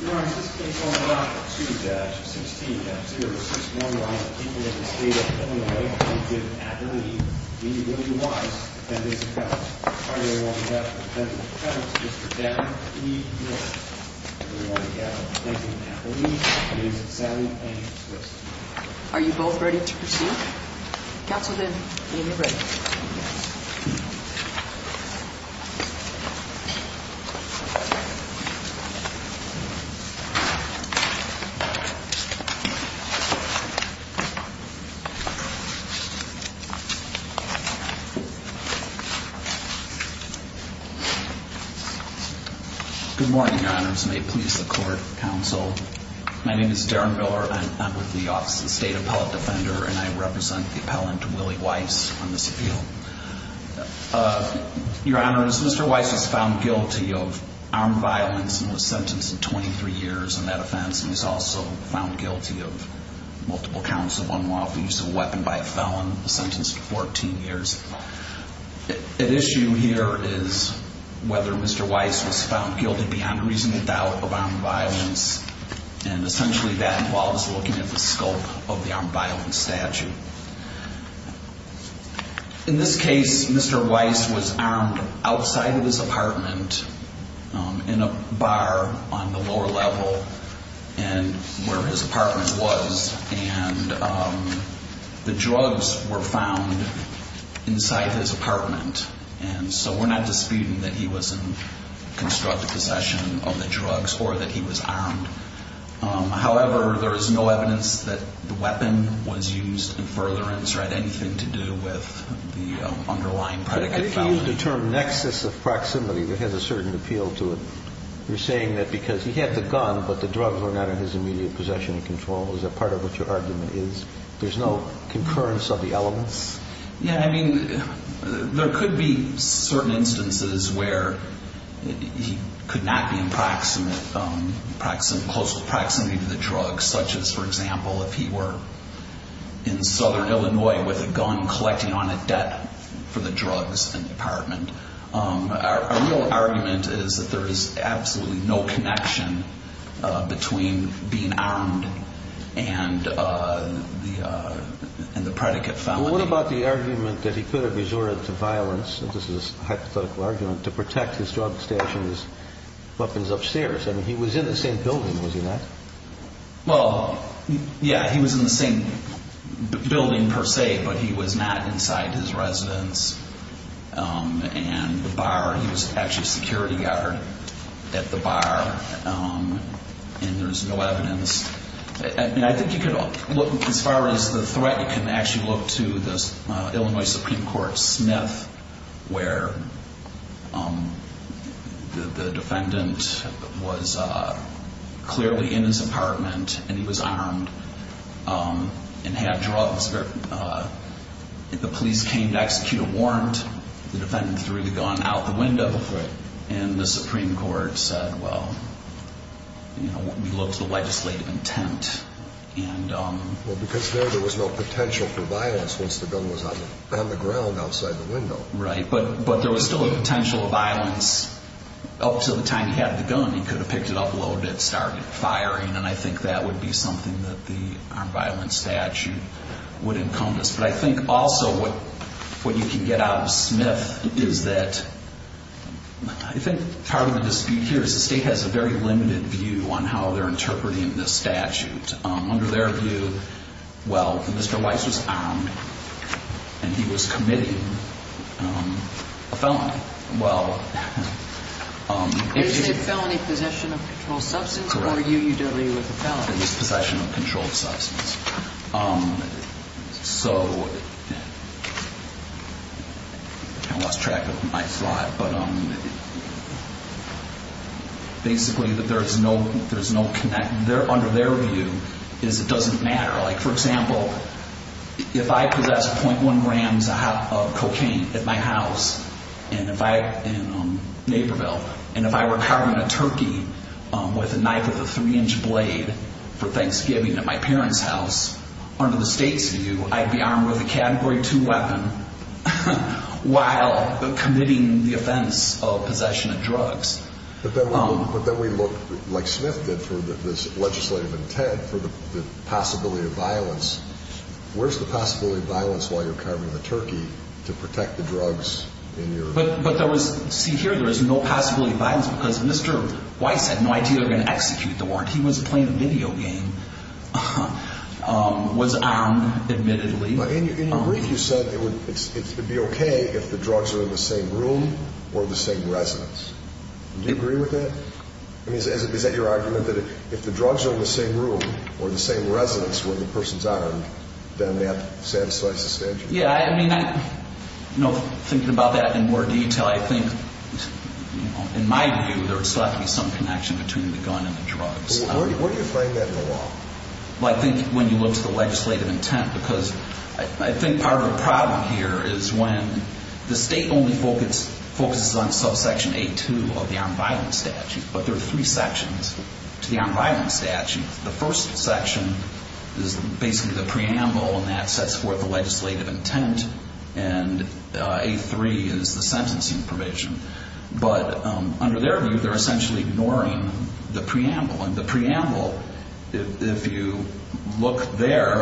Your Honor, in this case, Order of Appeals, 2-16-0, we are resisting the order of the people of the state of Illinois to give an affidavit in the name of William Wise to defend his account. We are hereby ordering the defendant to present his district attorney, and we are hereby ordering the defendant to present an affidavit in the name of Sally Angel Swiss. Are you both ready to proceed? Counselor Lynn, are you ready? Yes. Good morning, Your Honors. May it please the Court, Counsel. My name is Darren Miller. I'm with the Office of the State Appellate Defender, and I represent the appellant, Willie Wise, on this appeal. Your Honors, Mr. Wise was found guilty of armed violence and was sentenced to 23 years in that offense, and he was also found guilty of multiple counts of unlawful use of a weapon by a felon, sentenced to 14 years. At issue here is whether Mr. Wise was found guilty beyond reasonable doubt of armed violence, and essentially that involves looking at the scope of the armed violence statute. In this case, Mr. Wise was armed outside of his apartment in a bar on the lower level where his apartment was, and the drugs were found inside his apartment, and so we're not disputing that he was in constructive possession of the drugs or that he was armed. However, there is no evidence that the weapon was used in furtherance or had anything to do with the underlying predicate felony. But if you use the term nexus of proximity that has a certain appeal to it, you're saying that because he had the gun but the drugs were not in his immediate possession and control, is that part of what your argument is? There's no concurrence of the elements? Yeah, I mean, there could be certain instances where he could not be in close proximity to the drugs, such as, for example, if he were in southern Illinois with a gun collecting on a debt for the drugs in the apartment. Our real argument is that there is absolutely no connection between being armed and the predicate felony. What about the argument that he could have resorted to violence, and this is a hypothetical argument, to protect his drug stash and his weapons upstairs? I mean, he was in the same building, was he not? Well, yeah, he was in the same building per se, but he was not inside his residence and the bar. He was actually a security guard at the bar, and there's no evidence. I mean, I think you could look, as far as the threat, you can actually look to the Illinois Supreme Court Smith, where the defendant was clearly in his apartment and he was armed and had drugs. The police came to execute a warrant. The defendant threw the gun out the window, and the Supreme Court said, well, we looked at the legislative intent. Well, because there was no potential for violence once the gun was on the ground outside the window. Right, but there was still a potential of violence. Up to the time he had the gun, he could have picked it up a little bit and started firing, and I think that would be something that the armed violence statute would encompass. But I think also what you can get out of Smith is that I think part of the dispute here is the state has a very limited view on how they're interpreting this statute. Under their view, well, Mr. Weiss was armed and he was committing a felony. Was it a felony possession of controlled substance, or were you dealing with a felony? It was possession of controlled substance. So, I lost track of my slide, but basically under their view, it doesn't matter. Like, for example, if I possessed .1 grams of cocaine at my house in Naperville, and if I were carving a turkey with a knife with a three-inch blade for Thanksgiving at my parents' house, under the state's view, I'd be armed with a Category 2 weapon while committing the offense of possession of drugs. But then we look, like Smith did, for this legislative intent for the possibility of violence. Where's the possibility of violence while you're carving a turkey to protect the drugs in your... But there was, see, here there is no possibility of violence because Mr. Weiss had no idea they were going to execute the warrant. He was playing a video game, was armed, admittedly. In your brief, you said it would be okay if the drugs were in the same room or the same residence. Do you agree with that? I mean, is that your argument, that if the drugs are in the same room or the same residence where the person's armed, then that satisfies the statute? Yeah, I mean, thinking about that in more detail, I think, in my view, there's likely some connection between the gun and the drugs. Where do you find that in the law? I think when you look to the legislative intent. Because I think part of the problem here is when the state only focuses on subsection A2 of the armed violence statute. But there are three sections to the armed violence statute. The first section is basically the preamble, and that sets forth the legislative intent. And A3 is the sentencing provision. But under their view, they're essentially ignoring the preamble. And the preamble, if you look there,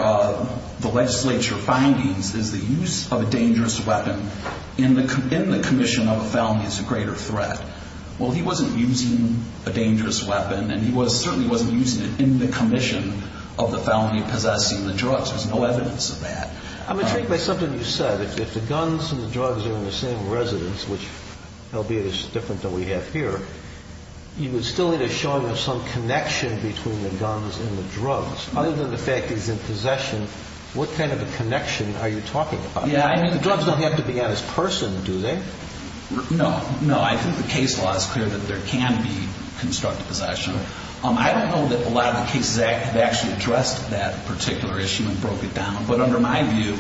the legislature findings, is the use of a dangerous weapon in the commission of a felony as a greater threat. Well, he wasn't using a dangerous weapon, and he certainly wasn't using it in the commission of the felony of possessing the drugs. There's no evidence of that. I'm going to take back something you said. If the guns and the drugs are in the same residence, which, albeit it's different than we have here, you would still need a showing of some connection between the guns and the drugs. Other than the fact he's in possession, what kind of a connection are you talking about? Yeah, I mean, the drugs don't have to be on his person, do they? No. No, I think the case law is clear that there can be constructive possession. I don't know that a lot of the cases have actually addressed that particular issue and broke it down. But under my view,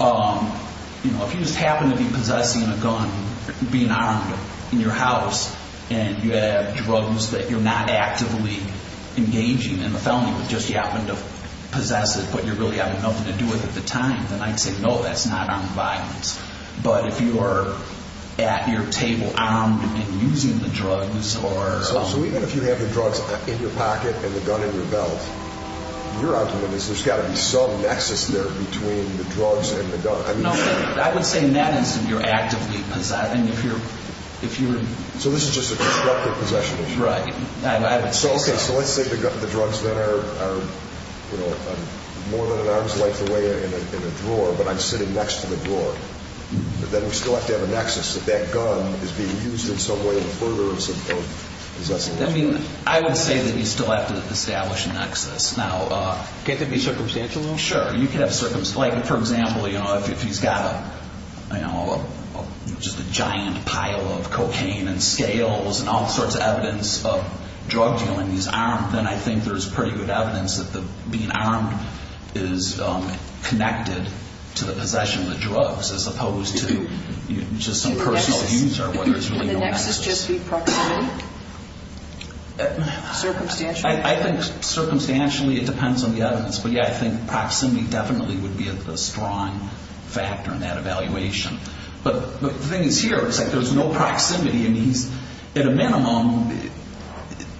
if you just happen to be possessing a gun, being armed, in your house, and you have drugs that you're not actively engaging in the felony, but just you happen to possess it but you're really having nothing to do with at the time, then I'd say, no, that's not armed violence. But if you are at your table armed and using the drugs or— So even if you have the drugs in your pocket and the gun in your belt, your argument is there's got to be some nexus there between the drugs and the gun. No, I would say in that instance you're actively possessing. So this is just a constructive possession issue. Right. Okay, so let's say the drugs then are more than an arm's length away in a drawer, but I'm sitting next to the drawer, but then we still have to have a nexus that that gun is being used in some way in the furtherance of possession. I would say that you still have to establish a nexus. Can it be circumstantial? Sure. Like, for example, if he's got just a giant pile of cocaine and scales and all sorts of evidence of drug dealing, he's armed, then I think there's pretty good evidence that being armed is connected to the possession of the drugs as opposed to just some personal use or whether there's really no nexus. Does this just be proximity? Circumstantial? I think circumstantially it depends on the evidence, but yeah, I think proximity definitely would be a strong factor in that evaluation. But the thing is here, it's like there's no proximity, and he's, at a minimum,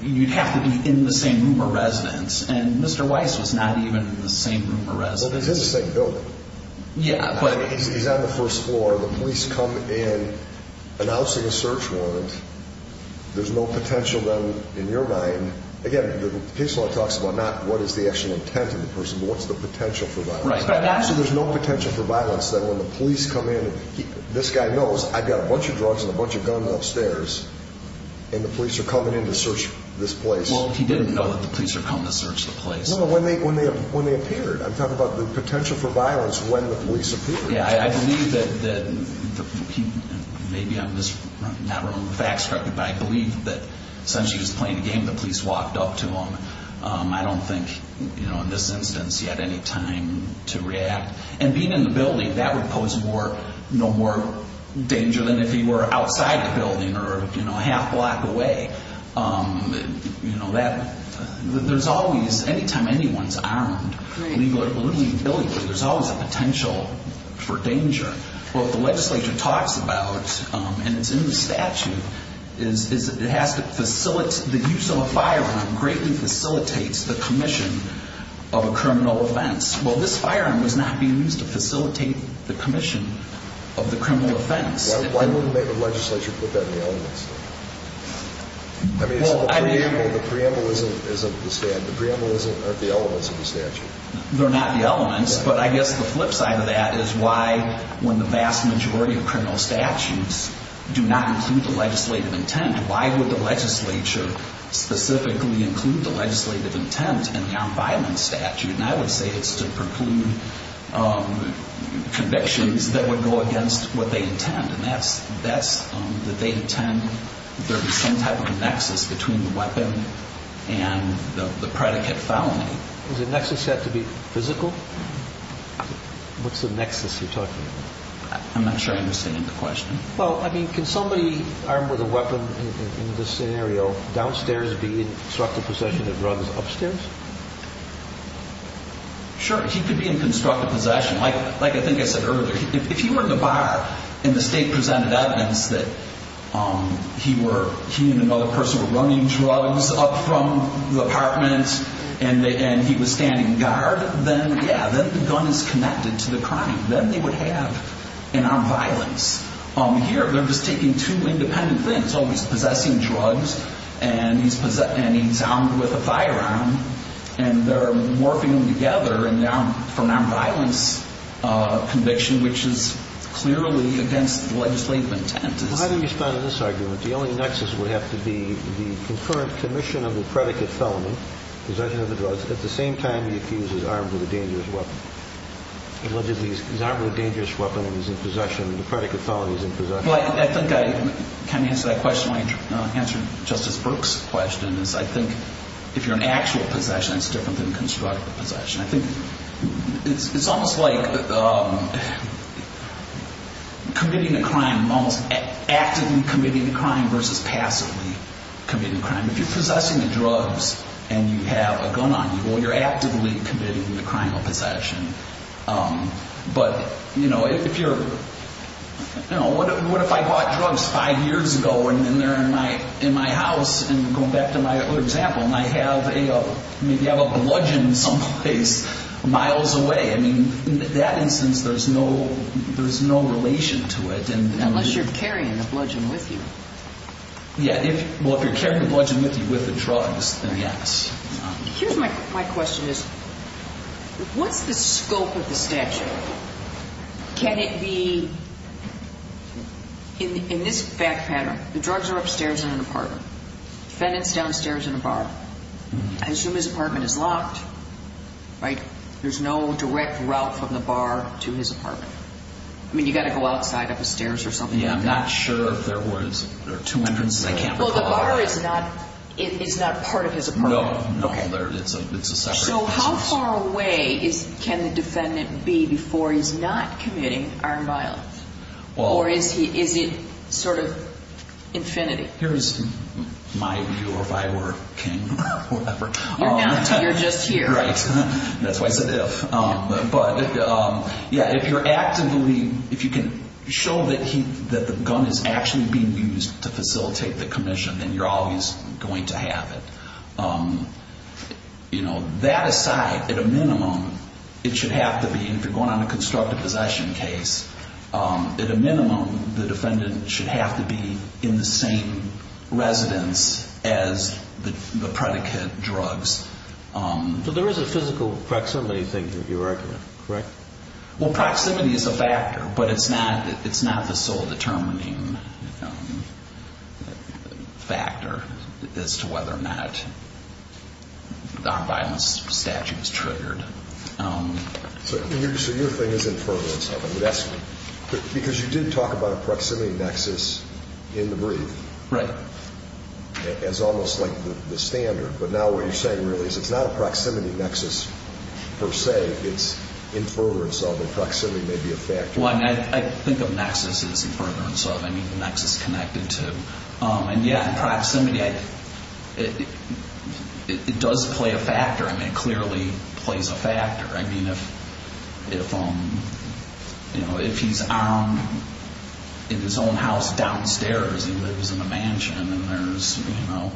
you'd have to be in the same room or residence, and Mr. Weiss was not even in the same room or residence. Well, he's in the same building. Yeah, but... He's on the first floor. The police come in announcing a search warrant. There's no potential, then, in your mind. Again, the case law talks about not what is the actual intent of the person, but what's the potential for violence. So there's no potential for violence that when the police come in, this guy knows I've got a bunch of drugs and a bunch of guns upstairs, and the police are coming in to search this place. Well, he didn't know that the police were coming to search the place. No, no, when they appeared. I'm talking about the potential for violence when the police appeared. Yeah, I believe that the people, maybe I'm not remembering the facts correctly, but I believe that since he was playing a game, the police walked up to him. I don't think, in this instance, he had any time to react. And being in the building, that would pose no more danger than if he were outside the building or a half block away. There's always, anytime anyone's armed, legally or politically, there's always a potential for danger. What the legislature talks about, and it's in the statute, is it has to facilitate the use of a firearm greatly facilitates the commission of a criminal offense. Well, this firearm was not being used to facilitate the commission of the criminal offense. Why wouldn't the legislature put that in the elements? I mean, the preamble isn't the statute. The preamble aren't the elements of the statute. They're not the elements, but I guess the flip side of that is why, when the vast majority of criminal statutes do not include the legislative intent, why would the legislature specifically include the legislative intent in the armed violence statute? And I would say it's to preclude convictions that would go against what they intend, and that's that they intend there to be some type of a nexus between the weapon and the predicate felony. Does the nexus have to be physical? What's the nexus you're talking about? I'm not sure I understand the question. Well, I mean, can somebody armed with a weapon in this scenario downstairs be in constructive possession of drugs upstairs? Sure, he could be in constructive possession. Like I think I said earlier, if he were in the bar, and the state presented evidence that he and another person were running drugs up from the apartment and he was standing guard, then, yeah, the gun is connected to the crime. Then they would have an armed violence here. They're just taking two independent things. Oh, he's possessing drugs, and he's armed with a firearm, and they're morphing them together from an armed violence conviction, which is clearly against the legislative intent. Well, how do you respond to this argument? The only nexus would have to be the concurrent commission of the predicate felony, possession of the drugs, at the same time he's accused as armed with a dangerous weapon. Allegedly he's armed with a dangerous weapon and he's in possession, and the predicate felony is in possession. Well, I think I can answer that question. My answer to Justice Brooks' question is I think if you're in actual possession, it's different than constructive possession. I think it's almost like committing a crime, almost actively committing a crime versus passively committing a crime. If you're possessing the drugs and you have a gun on you, well, you're actively committing the crime of possession. But, you know, if you're, you know, what if I bought drugs five years ago and they're in my house, and going back to my other example, and I have a bludgeon someplace miles away, I mean, in that instance, there's no relation to it. Unless you're carrying the bludgeon with you. Yeah. Well, if you're carrying the bludgeon with you with the drugs, then yes. Here's my question is what's the scope of the statute? Can it be in this fact pattern, the drugs are upstairs in an apartment, defendant's downstairs in a bar. I assume his apartment is locked, right? There's no direct route from the bar to his apartment. I mean, you've got to go outside up the stairs or something. Yeah, I'm not sure if there was two entrances, I can't recall. Well, the bar is not part of his apartment. No, no, it's a separate house. So how far away can the defendant be before he's not committing armed violence? Or is it sort of infinity? Here's my view if I were king or whatever. You're just here. Right. That's why I said if. But, yeah, if you're actively, if you can show that the gun is actually being used to facilitate the commission, then you're always going to have it. That aside, at a minimum, it should have to be, if you're going on a constructive possession case, at a minimum, the defendant should have to be in the same residence as the predicate drugs. So there is a physical proximity thing that you're arguing, correct? Well, proximity is a factor, but it's not the sole determining factor as to whether or not the armed violence statute is triggered. So your thing is in furtherance of it. Because you did talk about a proximity nexus in the brief. Right. As almost like the standard. But now what you're saying really is it's not a proximity nexus per se. It's in furtherance of it. Proximity may be a factor. I think of nexus as in furtherance of. I mean, the nexus connected to. And, yeah, in proximity, it does play a factor. I mean, it clearly plays a factor. I mean, if he's armed in his own house downstairs and lives in a mansion and there's a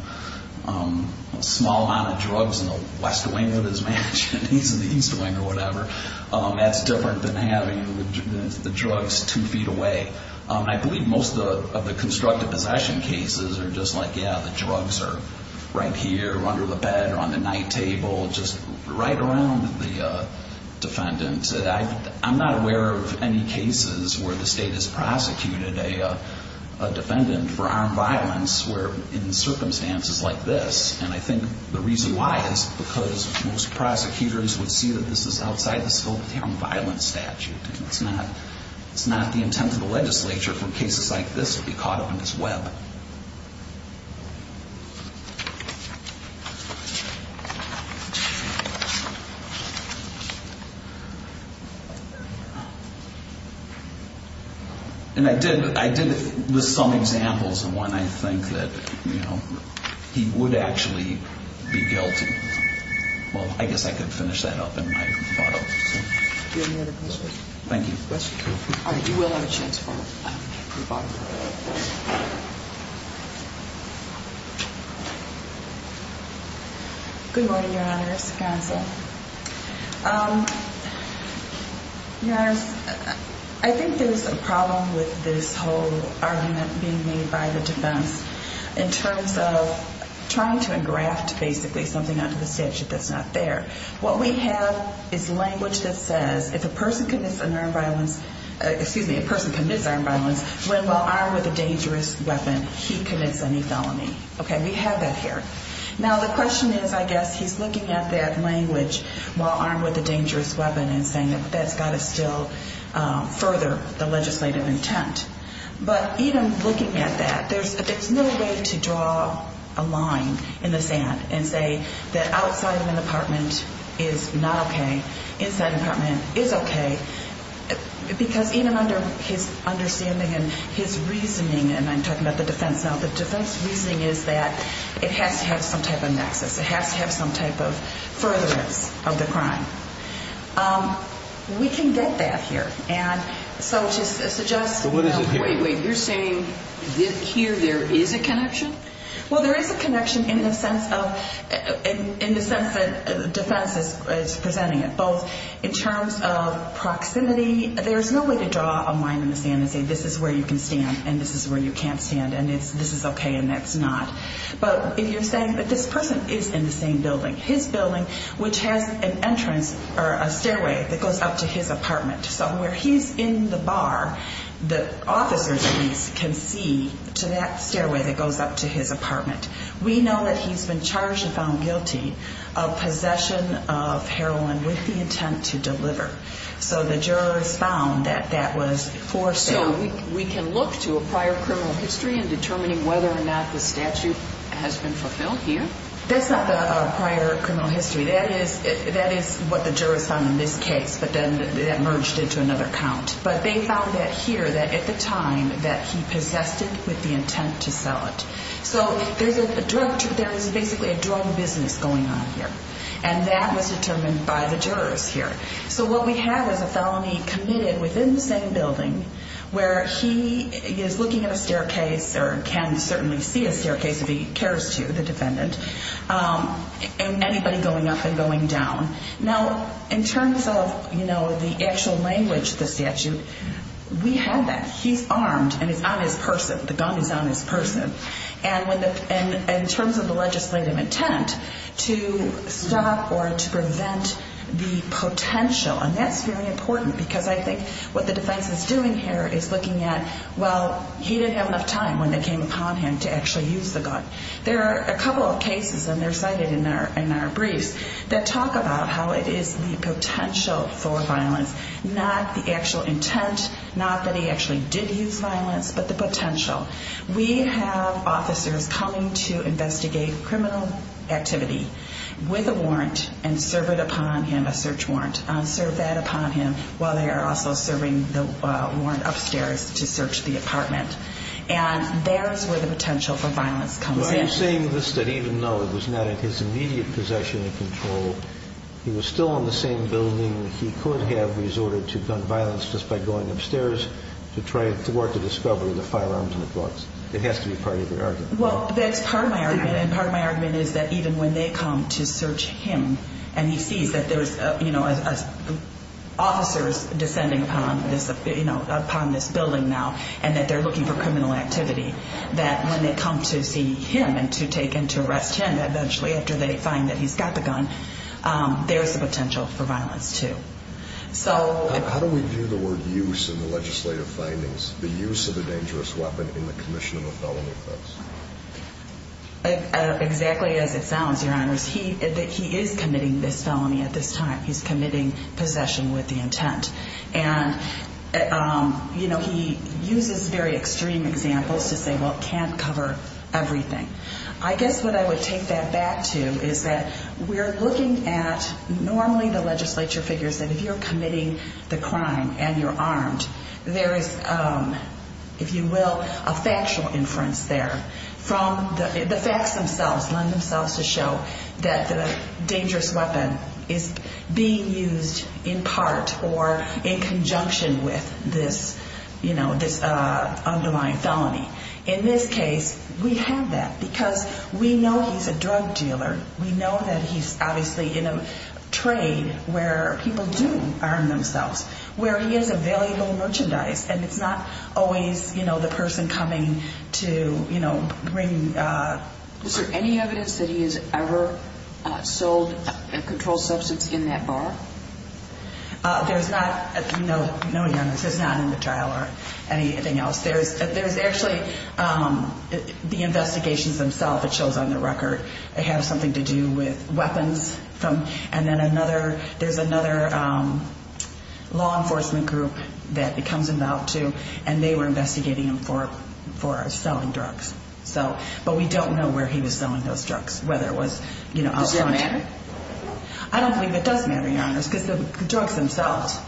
small amount of drugs in the west wing of his mansion and he's in the east wing or whatever, that's different than having the drugs two feet away. I believe most of the constructive possession cases are just like, yeah, the drugs are right here under the bed or on the night table, just right around the defendant. I'm not aware of any cases where the state has prosecuted a defendant for armed violence where in circumstances like this. And I think the reason why is because most prosecutors would see that this is outside the scope of the armed violence statute. It's not the intent of the legislature for cases like this to be caught up in this web. And I did list some examples of when I think that he would actually be guilty. Well, I guess I could finish that up in my thought. Do you have any other questions? Thank you. All right, you will have a chance for the bottom row. Good morning, Your Honors, counsel. Your Honors, I think there's a problem with this whole argument being made by the defense in terms of trying to engraft basically something onto the statute that's not there. What we have is language that says if a person commits an armed violence, excuse me, a person commits armed violence, when while armed with a dangerous weapon, he commits any felony. Okay, we have that here. Now, the question is, I guess, he's looking at that language while armed with a dangerous weapon and saying that that's got to still further the legislative intent. But even looking at that, there's no way to draw a line in the sand and say that outside of an apartment is not okay, inside an apartment is okay. Because even under his understanding and his reasoning, and I'm talking about the defense now, the defense reasoning is that it has to have some type of nexus. It has to have some type of furtherance of the crime. We can get that here. And so just to suggest. So what is it here? Wait, wait, you're saying here there is a connection? Well, there is a connection in the sense of defense is presenting it. Both in terms of proximity. There's no way to draw a line in the sand and say this is where you can stand and this is where you can't stand and this is okay and that's not. But if you're saying that this person is in the same building, his building, which has an entrance or a stairway that goes up to his apartment. So where he's in the bar, the officers can see to that stairway that goes up to his apartment. We know that he's been charged and found guilty of possession of heroin with the intent to deliver. So the jurors found that that was forced out. So we can look to a prior criminal history in determining whether or not the statute has been fulfilled here? That's not the prior criminal history. That is what the jurors found in this case, but then that merged into another count. But they found that here that at the time that he possessed it with the intent to sell it. So there's basically a drug business going on here, and that was determined by the jurors here. So what we have is a felony committed within the same building where he is looking at a staircase or can certainly see a staircase if he cares to, the defendant, and anybody going up and going down. Now, in terms of the actual language of the statute, we have that. He's armed and it's on his person. The gun is on his person. And in terms of the legislative intent to stop or to prevent the potential, and that's very important because I think what the defense is doing here is looking at, well, he didn't have enough time when they came upon him to actually use the gun. There are a couple of cases, and they're cited in our briefs, that talk about how it is the potential for violence, not the actual intent, not that he actually did use violence, but the potential. We have officers coming to investigate criminal activity with a warrant and serve it upon him, a search warrant, and serve that upon him while they are also serving the warrant upstairs to search the apartment. And there's where the potential for violence comes in. Well, you're saying this that even though it was not in his immediate possession and control, he was still in the same building, he could have resorted to gun violence just by going upstairs to try to thwart the discovery of the firearms and the drugs. It has to be part of your argument. Well, that's part of my argument. And part of my argument is that even when they come to search him and he sees that there's officers descending upon this building now and that they're looking for criminal activity, that when they come to see him and to take him to arrest him eventually after they find that he's got the gun, there's a potential for violence too. How do we view the word use in the legislative findings, the use of a dangerous weapon in the commission of a felony offense? Exactly as it sounds, Your Honors. He is committing this felony at this time. He's committing possession with the intent. And, you know, he uses very extreme examples to say, well, it can't cover everything. I guess what I would take that back to is that we're looking at normally the legislature figures that if you're committing the crime and you're armed, there is, if you will, a factual inference there from the facts themselves, that the dangerous weapon is being used in part or in conjunction with this, you know, this underlying felony. In this case, we have that because we know he's a drug dealer. We know that he's obviously in a trade where people do arm themselves, where he is available merchandise, and it's not always, you know, the person coming to, you know, bring. Is there any evidence that he has ever sold a controlled substance in that bar? There's not, no, Your Honors. There's not in the trial or anything else. There's actually the investigations themselves, it shows on the record, have something to do with weapons. And then another, there's another law enforcement group that it comes about to, and they were investigating him for selling drugs. So, but we don't know where he was selling those drugs, whether it was, you know. Does that matter? I don't believe it does matter, Your Honors, because the drugs themselves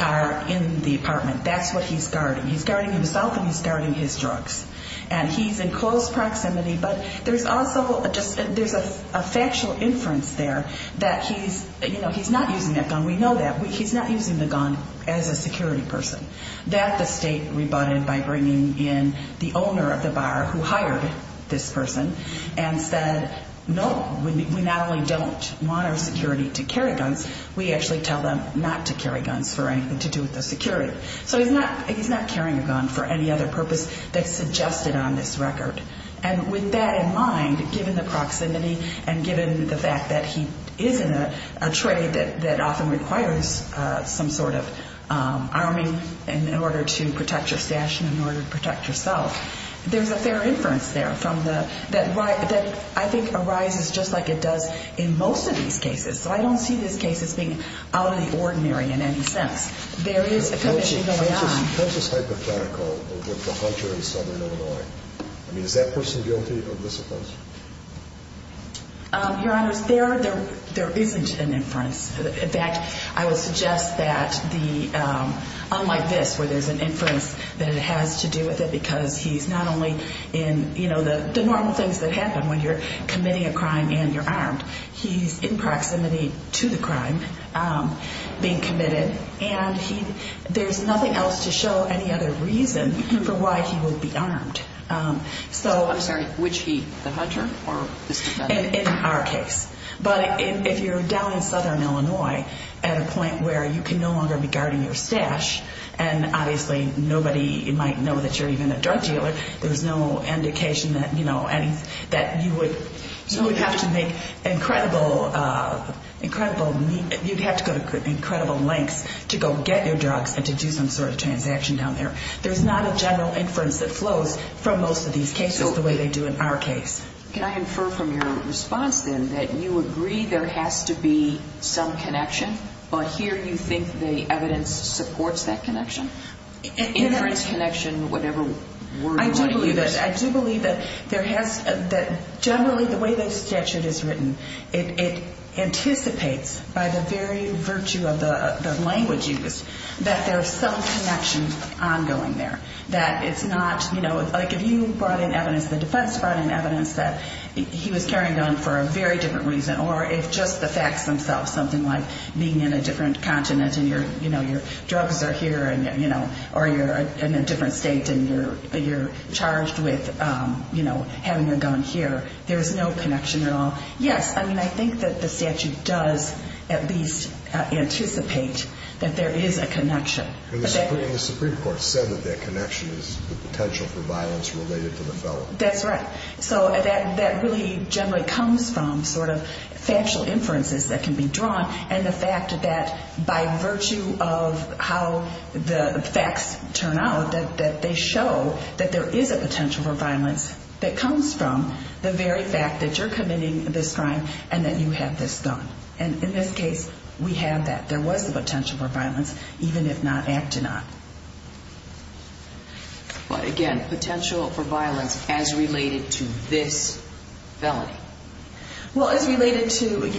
are in the apartment. That's what he's guarding. He's guarding himself and he's guarding his drugs. And he's in close proximity, but there's also just, there's a factual inference there that he's, you know, he's not using that gun, we know that. He's not using the gun as a security person. That the state rebutted by bringing in the owner of the bar who hired this person and said, no, we not only don't want our security to carry guns, we actually tell them not to carry guns for anything to do with the security. So he's not carrying a gun for any other purpose that's suggested on this record. And with that in mind, given the proximity and given the fact that he is in a trade that often requires some sort of arming in order to protect your stash and in order to protect yourself, there's a fair inference there that I think arises just like it does in most of these cases. So I don't see this case as being out of the ordinary in any sense. There is a commission going on. How is this hypothetical with the hunter in Southern Illinois? I mean, is that person guilty of this offense? Your Honor, there isn't an inference. In fact, I would suggest that unlike this where there's an inference that it has to do with it because he's not only in the normal things that happen when you're committing a crime and you're armed, he's in proximity to the crime being committed, and there's nothing else to show any other reason for why he would be armed. I'm sorry, which he, the hunter or this defendant? In our case. But if you're down in Southern Illinois at a point where you can no longer be guarding your stash and obviously nobody might know that you're even a drug dealer, there's no indication that you would have to make incredible lengths to go get your drugs and to do some sort of transaction down there. There's not a general inference that flows from most of these cases the way they do in our case. Can I infer from your response then that you agree there has to be some connection, but here you think the evidence supports that connection? Inference, connection, whatever word you want to use. I do believe that generally the way the statute is written, it anticipates by the very virtue of the language used that there's some connection ongoing there, that it's not, you know, like if you brought in evidence, the defense brought in evidence that he was carrying a gun for a very different reason or if just the facts themselves, something like being in a different continent and your drugs are here or you're in a different state and you're charged with having a gun here, there's no connection at all. Yes, I mean, I think that the statute does at least anticipate that there is a connection. And the Supreme Court said that that connection is the potential for violence related to the felon. That's right. So that really generally comes from sort of factual inferences that can be drawn and the fact that by virtue of how the facts turn out, that they show that there is a potential for violence that comes from the very fact that you're committing this crime and that you have this gun. And in this case, we have that. There was the potential for violence, even if not acted on. But again, potential for violence as related to this felony. Well, as related to,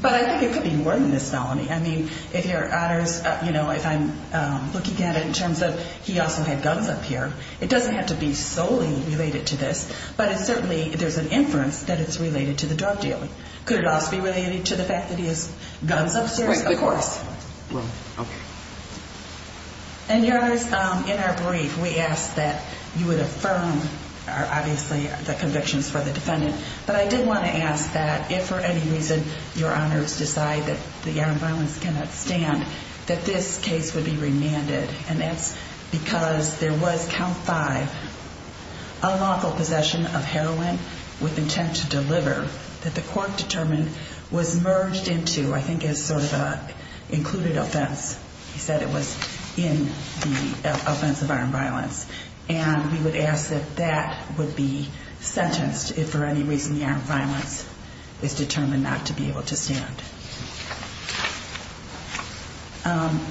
but I think it could be more than this felony. I mean, if your honor's, you know, if I'm looking at it in terms of he also had guns up here, it doesn't have to be solely related to this, but it certainly, there's an inference that it's related to the drug dealing. Could it also be related to the fact that he has guns upstairs? Of course. Okay. And your honors, in our brief, we asked that you would affirm, obviously, the convictions for the defendant. But I did want to ask that if for any reason your honors decide that the armed violence cannot stand, that this case would be remanded. And that's because there was count five unlawful possession of heroin with intent to deliver that the court determined was merged into, I think, as sort of an included offense. He said it was in the offense of armed violence. And we would ask that that would be sentenced if for any reason the armed violence is determined not to be able to stand.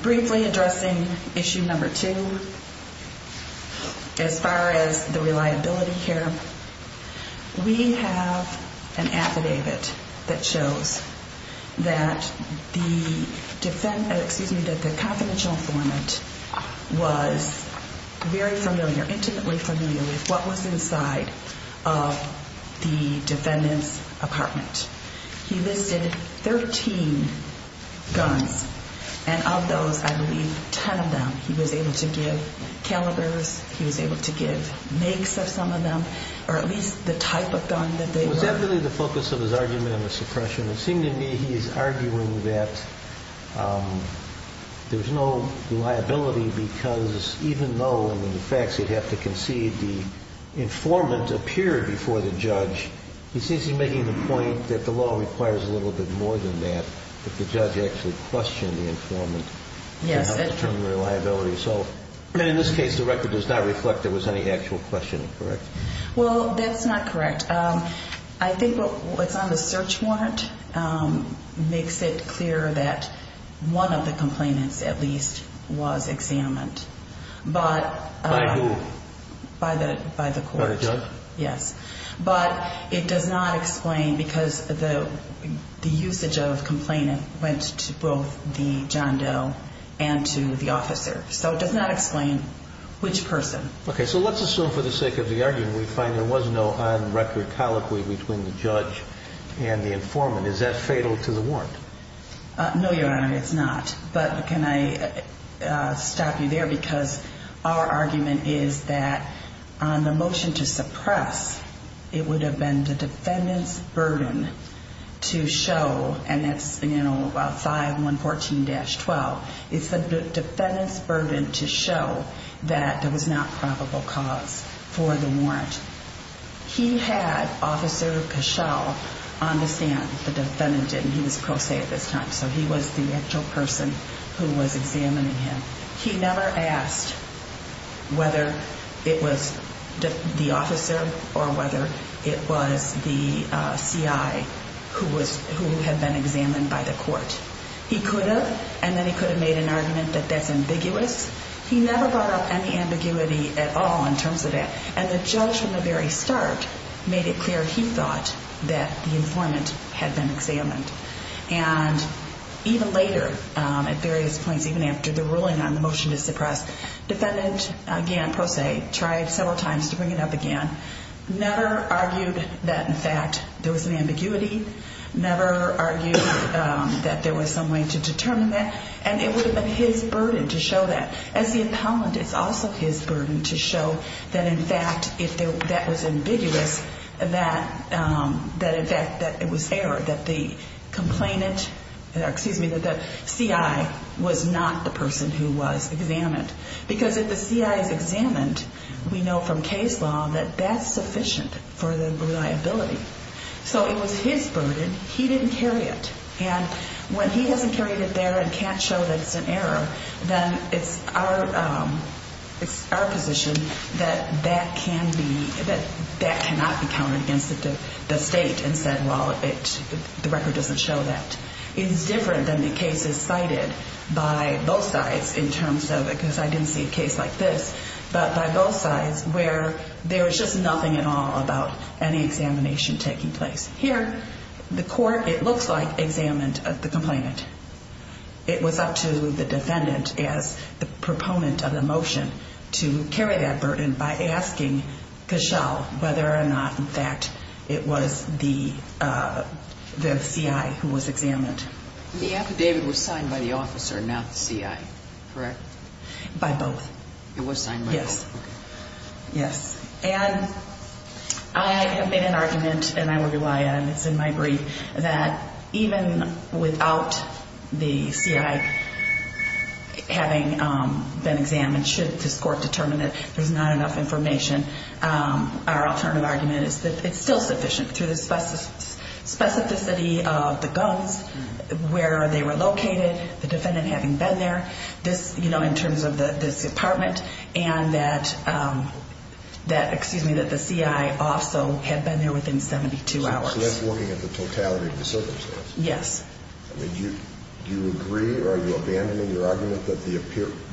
Briefly addressing issue number two, as far as the reliability here, we have an affidavit that shows that the defendant, excuse me, that the confidential informant was very familiar, intimately familiar with what was inside of the defendant's apartment. He listed 13 guns. And of those, I believe, 10 of them he was able to give calibers, he was able to give makes of some of them, or at least the type of gun that they were. Was that really the focus of his argument on the suppression? It seemed to me he's arguing that there's no reliability because even though in the facts he'd have to concede, the informant appeared before the judge, he seems to be making the point that the law requires a little bit more than that, that the judge actually questioned the informant in terms of reliability. So in this case, the record does not reflect there was any actual questioning, correct? Well, that's not correct. I think what's on the search warrant makes it clear that one of the complainants at least was examined. By who? By the court. By the judge? Yes. But it does not explain because the usage of complainant went to both the John Doe and to the officer. So it does not explain which person. Okay. So let's assume for the sake of the argument we find there was no on-record colloquy between the judge and the informant. Is that fatal to the warrant? No, Your Honor, it's not. But can I stop you there because our argument is that on the motion to suppress, it would have been the defendant's burden to show, and that's 5114-12, it's the defendant's burden to show that there was not probable cause for the warrant. He had Officer Cashel on the stand, the defendant didn't. He was pro se at this time, so he was the actual person who was examining him. He never asked whether it was the officer or whether it was the CI who had been examined by the court. He could have, and then he could have made an argument that that's ambiguous. He never brought up any ambiguity at all in terms of that. And the judge from the very start made it clear he thought that the informant had been examined. And even later, at various points, even after the ruling on the motion to suppress, defendant, again pro se, tried several times to bring it up again, never argued that, in fact, there was an ambiguity, never argued that there was some way to determine that, and it would have been his burden to show that. As the impoundment, it's also his burden to show that, in fact, if that was ambiguous, that it was error, that the complainant, excuse me, that the CI was not the person who was examined. Because if the CI is examined, we know from case law that that's sufficient for the liability. So it was his burden, he didn't carry it. And when he hasn't carried it there and can't show that it's an error, then it's our position that that cannot be counted against the state and said, well, the record doesn't show that. It is different than the cases cited by both sides in terms of it, because I didn't see a case like this, but by both sides where there is just nothing at all about any examination taking place. Here, the court, it looks like, examined the complainant. It was up to the defendant, as the proponent of the motion, to carry that burden by asking Cashel whether or not, in fact, it was the CI who was examined. The affidavit was signed by the officer, not the CI, correct? By both. It was signed by both? Yes. Yes. And I have made an argument, and I will rely on it. It's in my brief, that even without the CI having been examined, should this court determine that there's not enough information, our alternative argument is that it's still sufficient, through the specificity of the guns, where they were located, the defendant having been there, in terms of this apartment, and that the CI also had been there within 72 hours. So that's looking at the totality of the circumstances? Yes. Do you agree, or are you abandoning your argument that,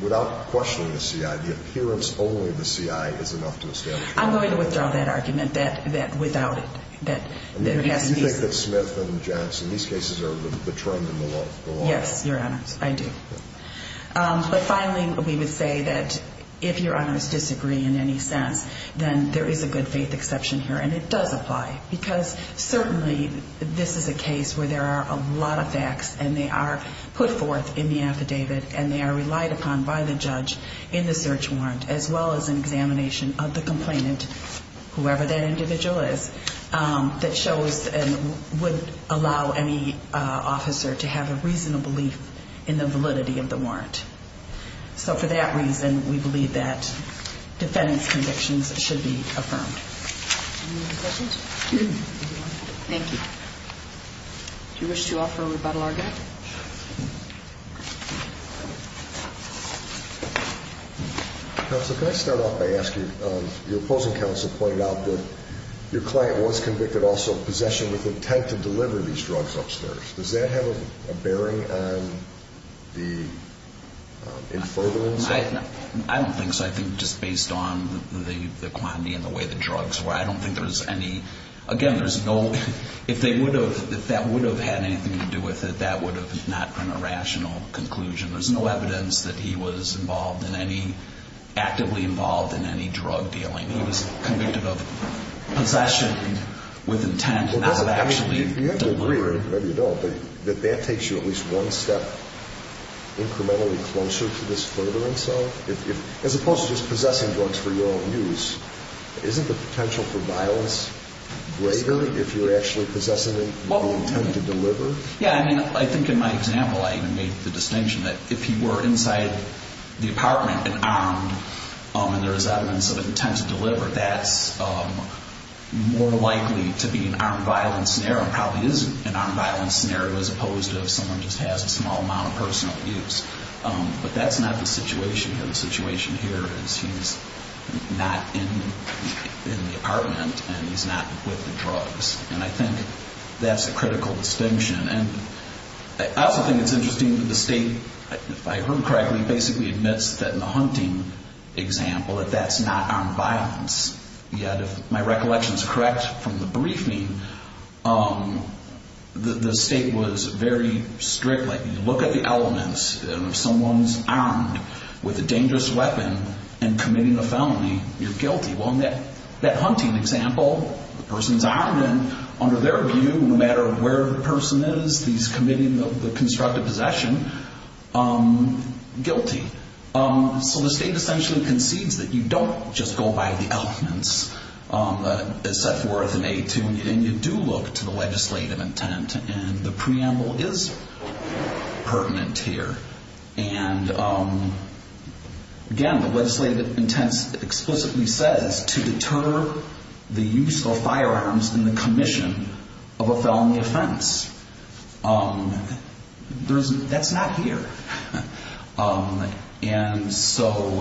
without questioning the CI, the appearance only of the CI is enough to establish that? I'm going to withdraw that argument, that without it. Do you think that Smith and Johnson, these cases are the trend in the law? Yes, Your Honors, I do. But finally, we would say that if Your Honors disagree in any sense, then there is a good faith exception here, and it does apply, because certainly this is a case where there are a lot of facts, and they are put forth in the affidavit, and they are relied upon by the judge in the search warrant, as well as an examination of the complainant, whoever that individual is, that shows and would allow any officer to have a reasonable belief in the validity of the warrant. So for that reason, we believe that defendant's convictions should be affirmed. Any other questions? Thank you. Do you wish to offer a rebuttal argument? Counsel, can I start off by asking, your opposing counsel pointed out that your client was convicted also of possession with intent to deliver these drugs upstairs. Does that have a bearing on the in furtherance? I don't think so. I think just based on the quantity and the way the drugs were, I don't think there was any, again, there's no, if they would have, if that would have had anything to do with it, that would have not been a rational conclusion. There's no evidence that he was involved in any, actively involved in any drug dealing. He was convicted of possession with intent, not of actually delivering. You have to agree, or maybe you don't, that that takes you at least one step incrementally closer to this furtherance, though? As opposed to just possessing drugs for your own use, isn't the potential for violence greater if you're actually possessing them with the intent to deliver? Yeah, I mean, I think in my example, I made the distinction that if he were inside the apartment, and armed, and there was evidence of intent to deliver, that's more likely to be an armed violence scenario, and probably is an armed violence scenario, as opposed to if someone just has a small amount of personal abuse. But that's not the situation here. The situation here is he's not in the apartment, and he's not with the drugs. And I think that's a critical distinction. And I also think it's interesting that the state, if I heard correctly, basically admits that in the hunting example, that that's not armed violence. Yet, if my recollection is correct from the briefing, the state was very strict. Like, you look at the elements, and if someone's armed with a dangerous weapon and committing a felony, you're guilty. Well, in that hunting example, the person's armed, and under their view, no matter where the person is, he's committing the constructive possession, guilty. So the state essentially concedes that you don't just go by the elements as set forth in A2, and you do look to the legislative intent, and the preamble is pertinent here. And again, the legislative intent explicitly says to deter the use of firearms in the commission of a felony offense. That's not here. And so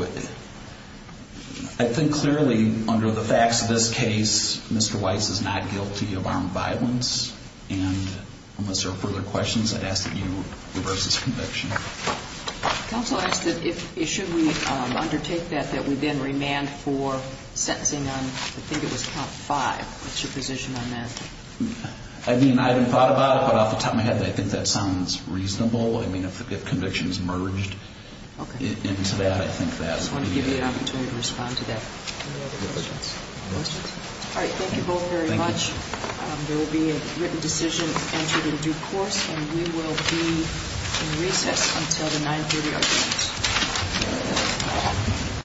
I think clearly under the facts of this case, Mr. Weiss is not guilty of armed violence. And unless there are further questions, I'd ask that you reverse this conviction. Counsel asked that if, should we undertake that, that we then remand for sentencing on, I think it was count five. What's your position on that? I mean, I haven't thought about it, but off the top of my head, I think that sounds reasonable. I mean, if convictions merged into that, I think that would be good. I just want to give you an opportunity to respond to that. Any other questions? All right, thank you both very much. There will be a written decision entered in due course, and we will be in recess until the 9.30 hours.